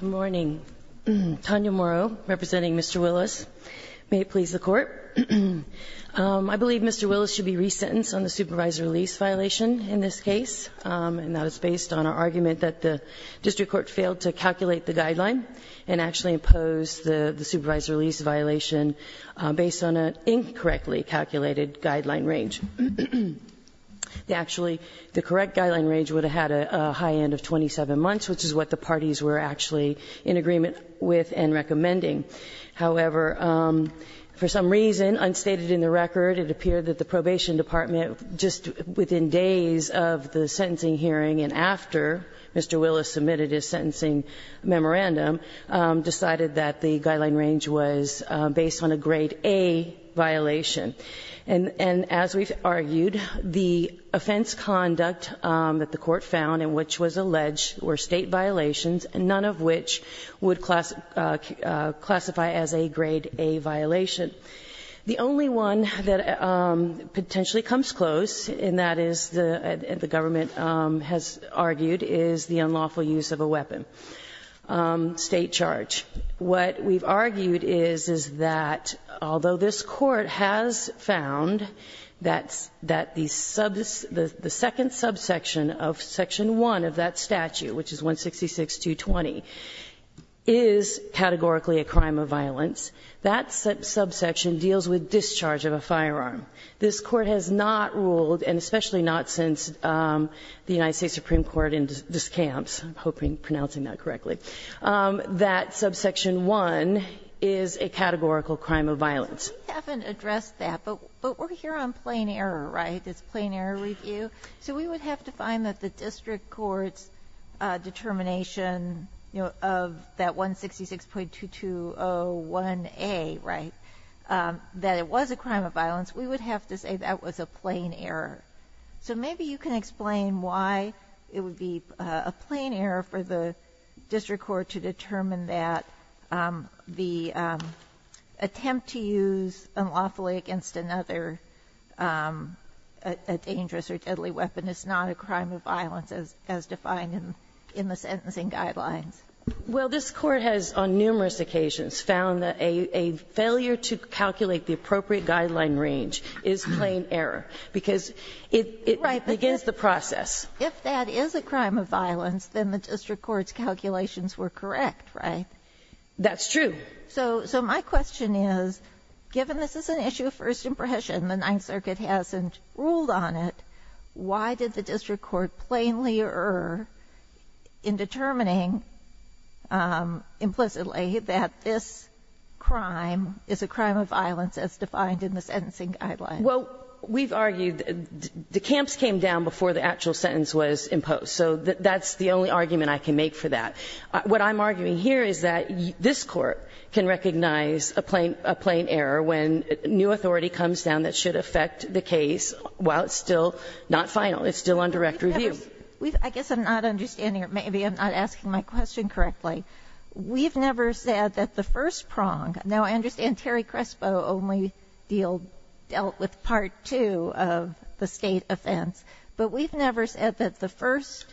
Good morning. Tanya Morrow, representing Mr. Willis. May it please the Court. I believe Mr. Willis should be resentenced on the supervisory lease violation in this case, and that is based on our argument that the district court failed to calculate the guideline and actually imposed the supervisory lease violation based on an incorrectly calculated guideline range. Actually, the correct guideline range would have had a high end of 27 months, which is what the parties were actually in agreement with and recommending. However, for some reason, unstated in the record, it appeared that the probation department, just within days of the sentencing hearing and after Mr. Willis submitted his sentencing memorandum, decided that the guideline range was based on a Grade A violation. And as we've argued, the offense conduct that the Court found and which was alleged were State violations, none of which would classify as a Grade A violation. The only one that potentially comes close, and that is the government has argued, is the unlawful use of a weapon, State charge. What we've argued is, is that although this Court has found that the second subsection of Section 1 of that statute, which is 166.220, is categorically a crime of violence, that subsection deals with discharge of a firearm. This Court has not ruled, and especially not since the United States Supreme Court in Discamps, I'm hoping I'm pronouncing that correctly, that subsection 1 is a categorical crime of violence. We haven't addressed that, but we're here on plain error, right? It's plain error review. So we would have to find that the district court's determination of that 166.2201A, right, that it was a crime of violence, we would have to say that was a plain error. So maybe you can explain why it would be a plain error for the district court to determine that the attempt to use unlawfully against another dangerous or deadly weapon is not a crime of violence as defined in the sentencing guidelines. Well, this Court has, on numerous occasions, found that a failure to calculate the appropriate guideline range is plain error, because it begins the process. If that is a crime of violence, then the district court's calculations were correct, right? That's true. So my question is, given this is an issue of first impression, the Ninth Circuit hasn't ruled on it, why did the district court plainly err in determining implicitly that this crime is a crime of violence as defined in the sentencing guidelines? Well, we've argued the camps came down before the actual sentence was imposed. So that's the only argument I can make for that. What I'm arguing here is that this Court can recognize a plain error when a new authority comes down that should affect the case while it's still not final, it's still on direct review. I guess I'm not understanding, or maybe I'm not asking my question correctly. We've never said that the first prong, now I understand Terry Crespo only dealt with part two of the state offense, but we've never said that the first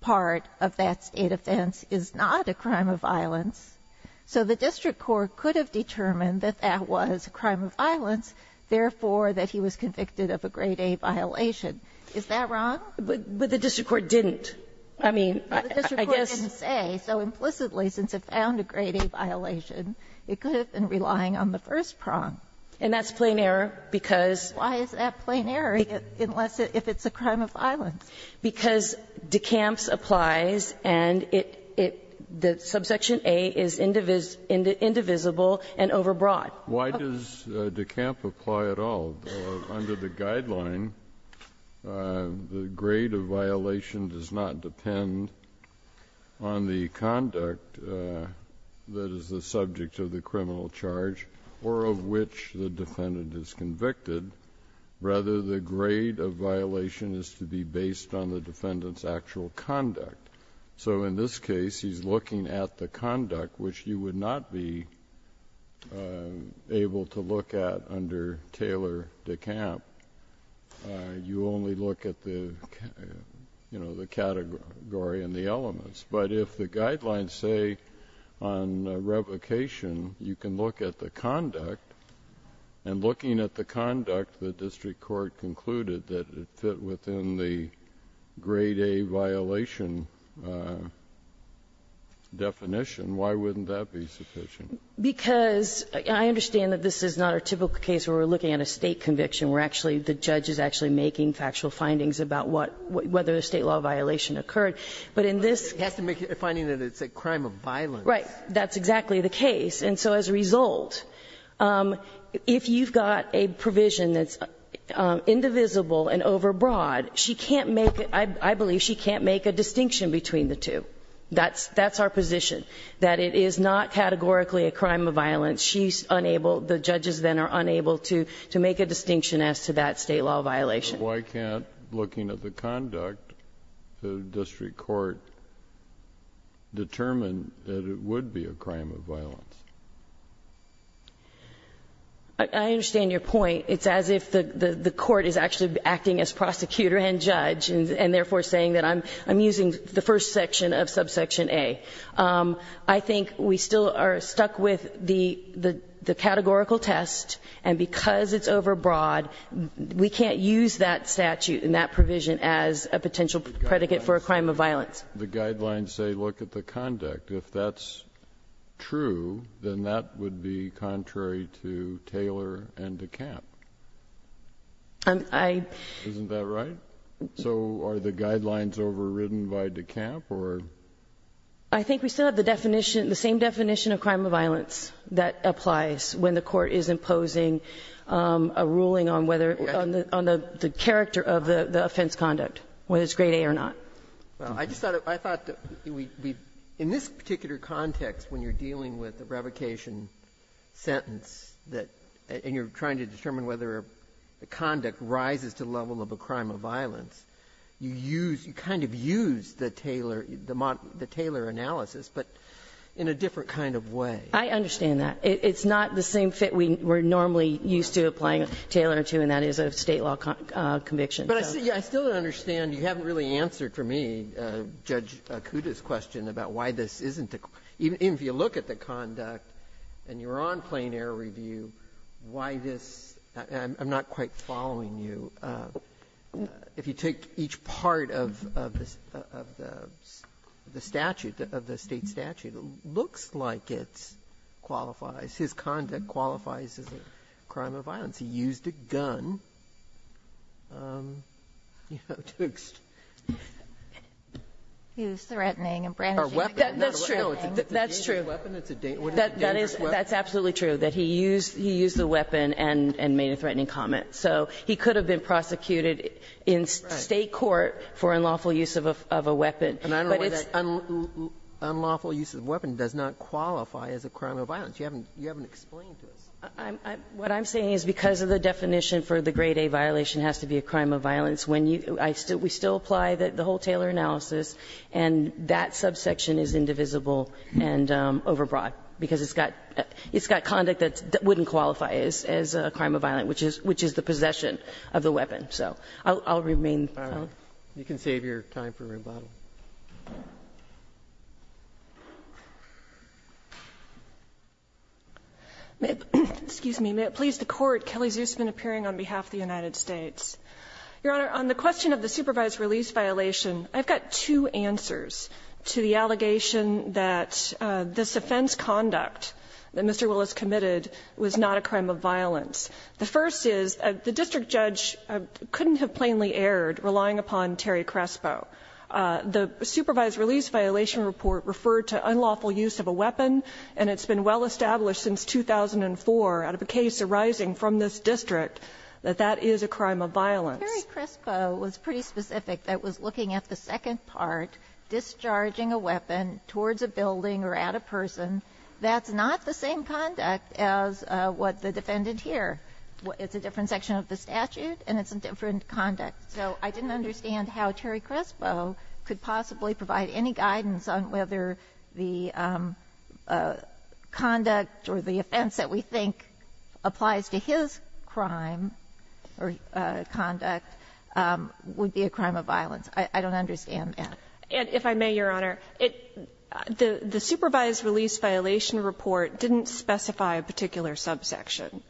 part of that state offense is not a crime of violence. So the district court could have determined that that was a crime of violence, therefore that he was convicted of a grade A violation. Is that wrong? But the district court didn't. I mean, I guess. The district court didn't say so implicitly since it found a grade A violation, it could have been relying on the first prong. And that's plain error because. Why is that plain error unless it's a crime of violence? Because DeCamps applies and it the subsection A is indivisible and overbroad. Why does DeCamps apply at all? Under the guideline, the grade of violation does not depend on the conduct that is the subject of the criminal charge or of which the defendant is convicted. Rather, the grade of violation is to be based on the defendant's actual conduct. So in this case, he's looking at the conduct which you would not be able to look at under Taylor DeCamp. You only look at the category and the elements. But if the guidelines say on revocation, you can look at the conduct. And looking at the conduct, the district court concluded that it fit within the grade A violation definition. Why wouldn't that be sufficient? Because I understand that this is not a typical case where we're looking at a state conviction. We're actually, the judge is actually making factual findings about whether a state law violation occurred. But in this. It has to make a finding that it's a crime of violence. Right, that's exactly the case. And so as a result, if you've got a provision that's indivisible and overbroad. She can't make, I believe she can't make a distinction between the two. That's our position, that it is not categorically a crime of violence. She's unable, the judges then are unable to make a distinction as to that state law violation. Why can't, looking at the conduct, the district court determine that it would be a crime of violence? I understand your point. It's as if the court is actually acting as prosecutor and judge. And therefore saying that I'm using the first section of subsection A. I think we still are stuck with the categorical test. And because it's overbroad, we can't use that statute and that provision as a potential predicate for a crime of violence. The guidelines say look at the conduct. If that's true, then that would be contrary to Taylor and DeKalb. I- Isn't that right? So are the guidelines overridden by DeKalb or? I think we still have the definition, the same definition of crime of violence that applies when the court is imposing a ruling on whether, on the character of the offense conduct, whether it's grade A or not. Well, I just thought, I thought that we, in this particular context when you're dealing with a revocation sentence that, and you're trying to determine whether conduct rises to the level of a crime of violence, you use, you kind of use the Taylor, the Taylor analysis, but in a different kind of way. I understand that. It's not the same fit we're normally used to applying Taylor to, and that is a state law conviction. But I still don't understand. You haven't really answered for me Judge Acuda's question about why this isn't, even if you look at the conduct and you're on plain air review, why this, I'm not quite following you. If you take each part of the statute, of the state statute, it looks like it qualifies. His conduct qualifies as a crime of violence. He used a gun, you know, to. Use threatening and brandishing a gun. That's true. That's true. That's absolutely true, that he used, he used the weapon and made a threatening comment. So he could have been prosecuted in state court for unlawful use of a weapon. But it's. Unlawful use of weapon does not qualify as a crime of violence. You haven't, you haven't explained this. What I'm saying is because of the definition for the grade A violation has to be a crime of violence. When you, I still, we still apply the whole Taylor analysis and that subsection is indivisible and over broad because it's got, it's got conduct that wouldn't qualify as a crime of violence, which is, which is the possession of the weapon. So I'll remain. You can save your time for rebuttal. Excuse me. May it please the court. Kelly Zuzman appearing on behalf of the United States. Your Honor, on the question of the supervised release violation. I've got two answers to the allegation that this offense conduct that Mr. Willis committed was not a crime of violence. The first is the district judge couldn't have plainly erred relying upon Terry Crespo. The supervised release violation report referred to unlawful use of a weapon and it's been well established since 2004 out of a case arising from this district that that is a crime of violence was pretty specific. That was looking at the second part, discharging a weapon towards a building or at a person that's not the same conduct as what the defendant here. It's a different section of the statute and it's a different conduct. So I didn't understand how Terry Crespo could possibly provide any guidance on whether the conduct or the offense that we think applies to his crime or conduct would be a crime of violence. I don't understand that. And if I may, Your Honor, the supervised release violation report didn't specify a particular subsection.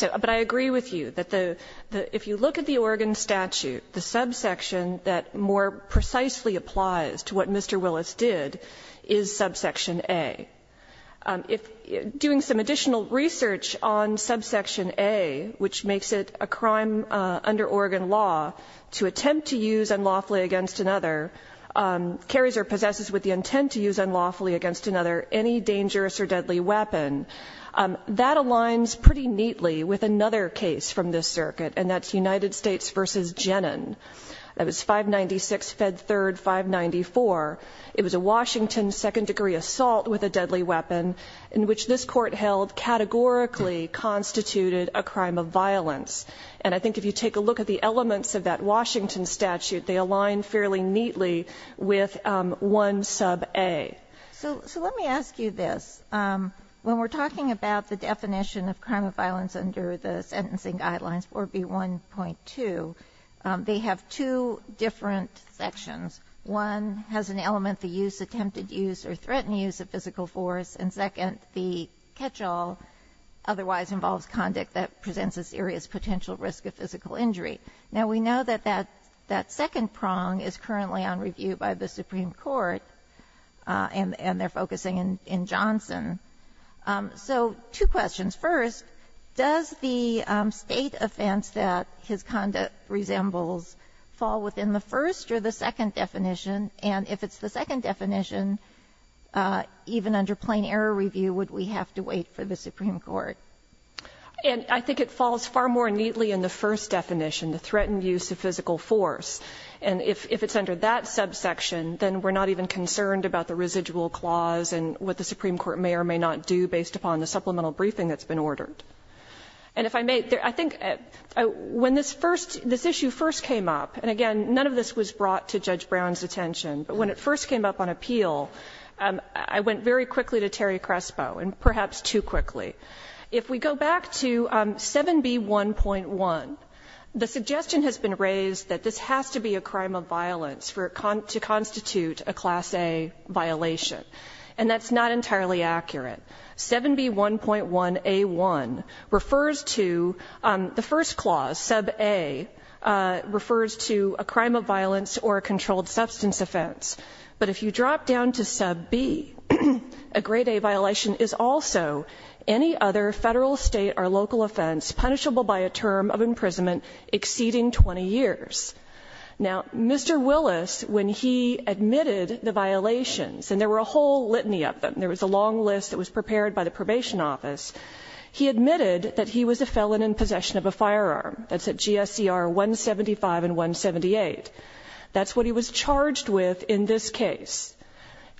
But I agree with you that if you look at the Oregon statute, the subsection that more precisely applies to what Mr. Willis did is subsection A. If doing some additional research on subsection A, which makes it a crime under Oregon law to attempt to use unlawfully against another, carries or possesses with the intent to use unlawfully against another, any dangerous or deadly weapon, that aligns pretty neatly with another case from this circuit. And that's United States versus Genin. That was 596 Fed 3rd 594. It was a Washington second degree assault with a deadly weapon in which this court held categorically constituted a crime of violence. And I think if you take a look at the elements of that Washington statute, they align fairly neatly with 1 sub A. So let me ask you this. When we're talking about the definition of crime of violence under the sentencing guidelines, 4B1.2, they have two different sections. One has an element, the use, attempted use or threatened use of physical force. And second, the catch-all otherwise involves conduct that presents a serious potential risk of physical injury. Now we know that that second prong is currently on review by the Supreme Court. And they're focusing in Johnson. So two questions. First, does the state offense that his conduct resembles fall within the first or the second definition? And if it's the second definition, even under plain error review, would we have to wait for the Supreme Court? And I think it falls far more neatly in the first definition, the threatened use of physical force. And if it's under that subsection, then we're not even concerned about the residual clause and what the Supreme Court may or may not do based upon the supplemental briefing that's been ordered. And if I may, I think when this issue first came up, and again, none of this was brought to Judge Brown's attention. But when it first came up on appeal, I went very quickly to Terry Crespo and perhaps too quickly. If we go back to 7B1.1, the suggestion has been raised that this has to be a crime of violence to constitute a Class A violation. And that's not entirely accurate. 7B1.1A1 refers to the first clause, Sub A, refers to a crime of violence or a controlled substance offense. But if you drop down to Sub B, a Grade A violation is also any other federal, state, or local offense punishable by a term of imprisonment exceeding 20 years. Now, Mr. Willis, when he admitted the violations, and there were a whole litany of them. There was a long list that was prepared by the probation office. He admitted that he was a felon in possession of a firearm. That's at GSER 175 and 178. That's what he was charged with in this case.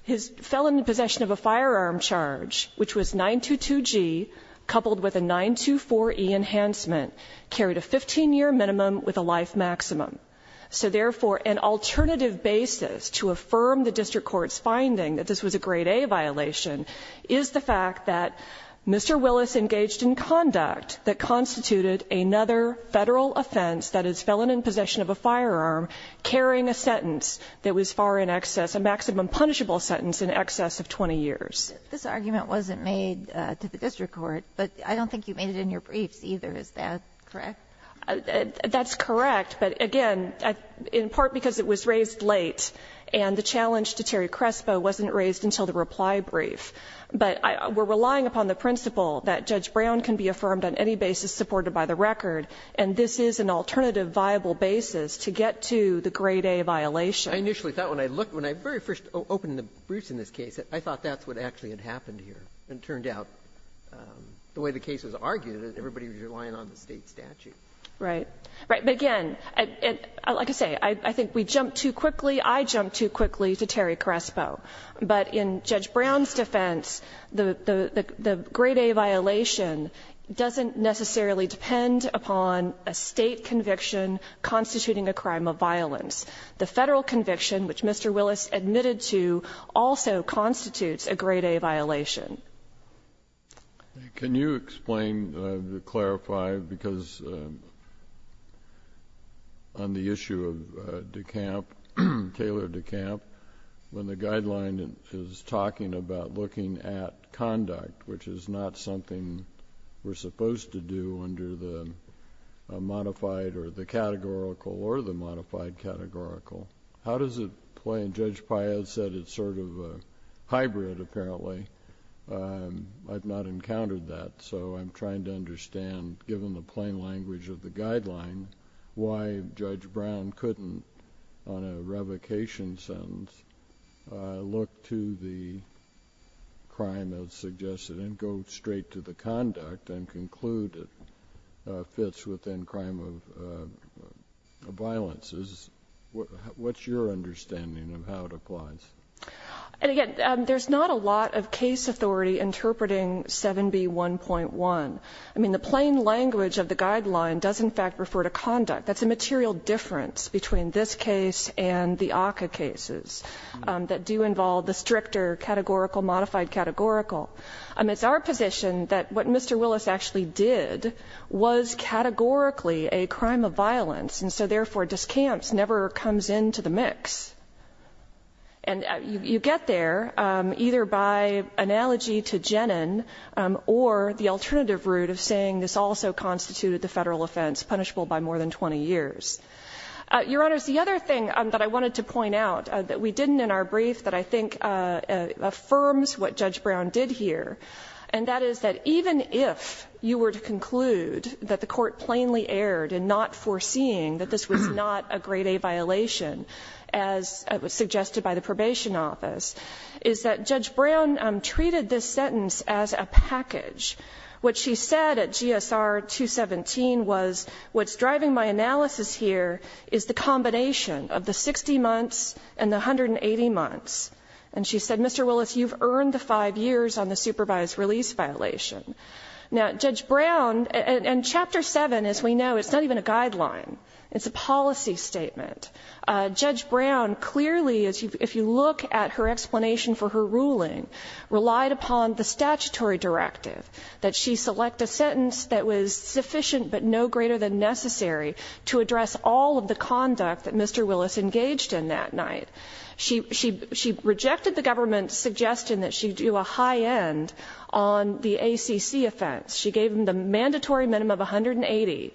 His felon in possession of a firearm charge, which was 922G, coupled with a 924E enhancement, carried a 15 year minimum with a life maximum. So therefore, an alternative basis to affirm the district court's finding that this was a Grade A violation is the fact that Mr. Willis engaged in conduct that constituted another federal offense, that is, felon in possession of a firearm, carrying a sentence that was far in excess, a maximum punishable sentence in excess of 20 years. This argument wasn't made to the district court, but I don't think you made it in your briefs either. Is that correct? That's correct. But again, in part because it was raised late and the challenge to Terry Crespo wasn't raised until the reply brief. But we're relying upon the principle that Judge Brown can be affirmed on any basis supported by the record, and this is an alternative viable basis to get to the Grade A violation. I initially thought when I looked, when I very first opened the briefs in this case, I thought that's what actually had happened here. And it turned out, the way the case was argued, that everybody was relying on the State statute. Right. Right. But again, like I say, I think we jumped too quickly. Maybe I jumped too quickly to Terry Crespo. But in Judge Brown's defense, the Grade A violation doesn't necessarily depend upon a State conviction constituting a crime of violence. The Federal conviction, which Mr. Willis admitted to, also constitutes a Grade A violation. Can you explain, clarify, because on the issue of DeKalb, the State statute tailored to DeKalb, when the guideline is talking about looking at conduct, which is not something we're supposed to do under the modified or the categorical or the modified categorical, how does it play? And Judge Payette said it's sort of a hybrid, apparently. I've not encountered that. So I'm trying to understand, given the plain language of the guideline, why Judge Brown couldn't, on a revocation sentence, look to the crime as suggested and go straight to the conduct and conclude it fits within crime of violence. What's your understanding of how it applies? And again, there's not a lot of case authority interpreting 7b1.1. I mean, the plain language of the guideline does in fact refer to conduct. That's a material difference between this case and the ACCA cases that do involve the stricter categorical, modified categorical. It's our position that what Mr. Willis actually did was categorically a crime of violence, and so therefore, discounts never comes into the mix. And you get there either by analogy to Gennon or the alternative route of saying this also constituted the federal offense punishable by more than 20 years. Your Honors, the other thing that I wanted to point out that we didn't in our brief that I think affirms what Judge Brown did here, and that is that even if you were to conclude that the court plainly erred in not foreseeing that this was not a grade A violation as suggested by the probation office, is that Judge Brown treated this sentence as a package. What she said at GSR 217 was, what's driving my analysis here is the combination of the 60 months and the 180 months. And she said, Mr. Willis, you've earned the five years on the supervised release violation. Now, Judge Brown, and Chapter 7, as we know, it's not even a guideline. It's a policy statement. Judge Brown clearly, if you look at her explanation for her ruling, relied upon the statutory directive, that she select a sentence that was sufficient but no greater than necessary to address all of the conduct that Mr. Willis engaged in that night. She rejected the government's suggestion that she do a high end on the ACC offense. She gave him the mandatory minimum of 180,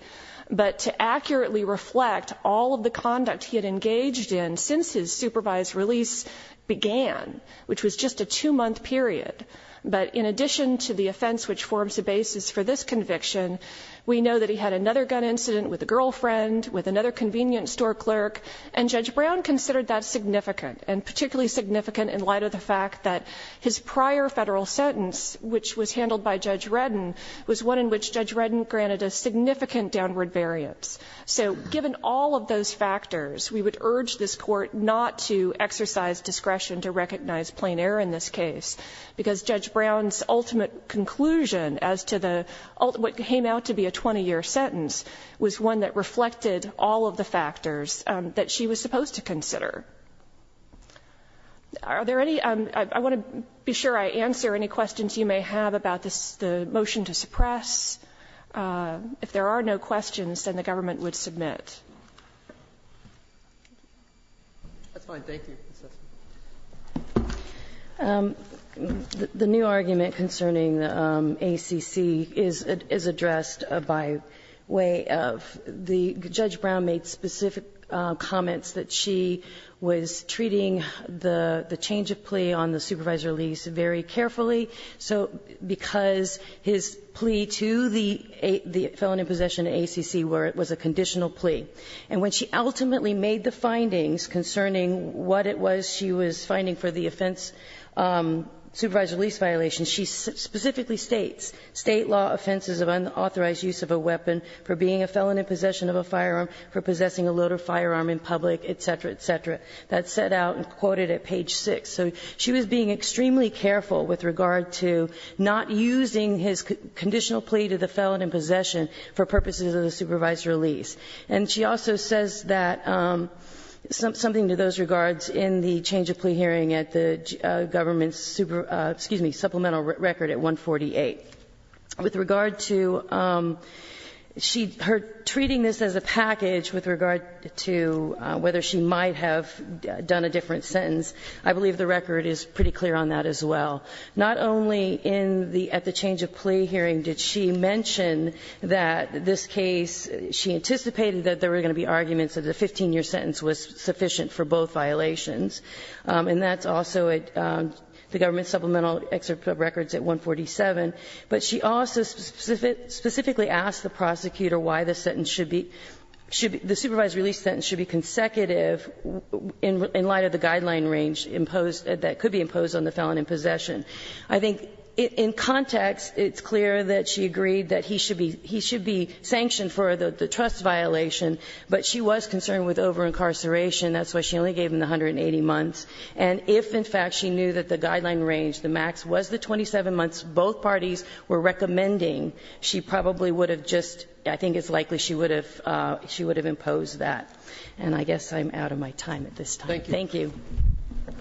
but to accurately reflect all of the conduct he had engaged in since his supervised release began, which was just a two-month period. But in addition to the offense, which forms the basis for this conviction, we know that he had another gun incident with a girlfriend, with another convenience store clerk, and Judge Brown considered that significant, and particularly significant in light of the fact that his prior federal sentence, which was handled by Judge Redden, was one in which Judge Redden granted a significant downward variance. So given all of those factors, we would urge this court not to exercise discretion to recognize plain error in this case, because Judge Brown's ultimate conclusion as to what came out to be a 20-year sentence was one that reflected all of the factors that she was supposed to consider. Are there any, I want to be sure I answer any questions you may have about the motion to suppress. If there are no questions, then the government would submit. That's fine. Thank you. The new argument concerning ACC is addressed by way of the Judge Brown made specific comments that she was treating the change of plea on the supervised release very carefully. So because his plea to the felon in possession of ACC was a conditional plea. And when she ultimately made the findings concerning what it was she was finding for the offense, supervised release violation, she specifically states, State law offenses of unauthorized use of a weapon for being a felon in possession of a firearm, for possessing a loaded firearm in public, et cetera, et cetera. That's set out and quoted at page 6. So she was being extremely careful with regard to not using his conditional plea to the felon in possession for purposes of the supervised release. And she also says that something to those regards in the change of plea hearing at the government's supplemental record at 148. With regard to her treating this as a package with regard to whether she might have done a different sentence, I believe the record is pretty clear on that as well. Not only at the change of plea hearing did she mention that this case, she anticipated that there were going to be arguments that a 15-year sentence was sufficient for both violations. And that's also at the government's supplemental record at 147. But she also specifically asked the prosecutor why the sentence should be, the supervised of the guideline range imposed, that could be imposed on the felon in possession. I think in context, it's clear that she agreed that he should be sanctioned for the trust violation, but she was concerned with over-incarceration. That's why she only gave him the 180 months. And if, in fact, she knew that the guideline range, the max, was the 27 months both parties were recommending, she probably would have just, I think it's likely she would have imposed that. And I guess I'm out of my time at this time. Thank you. Thank you.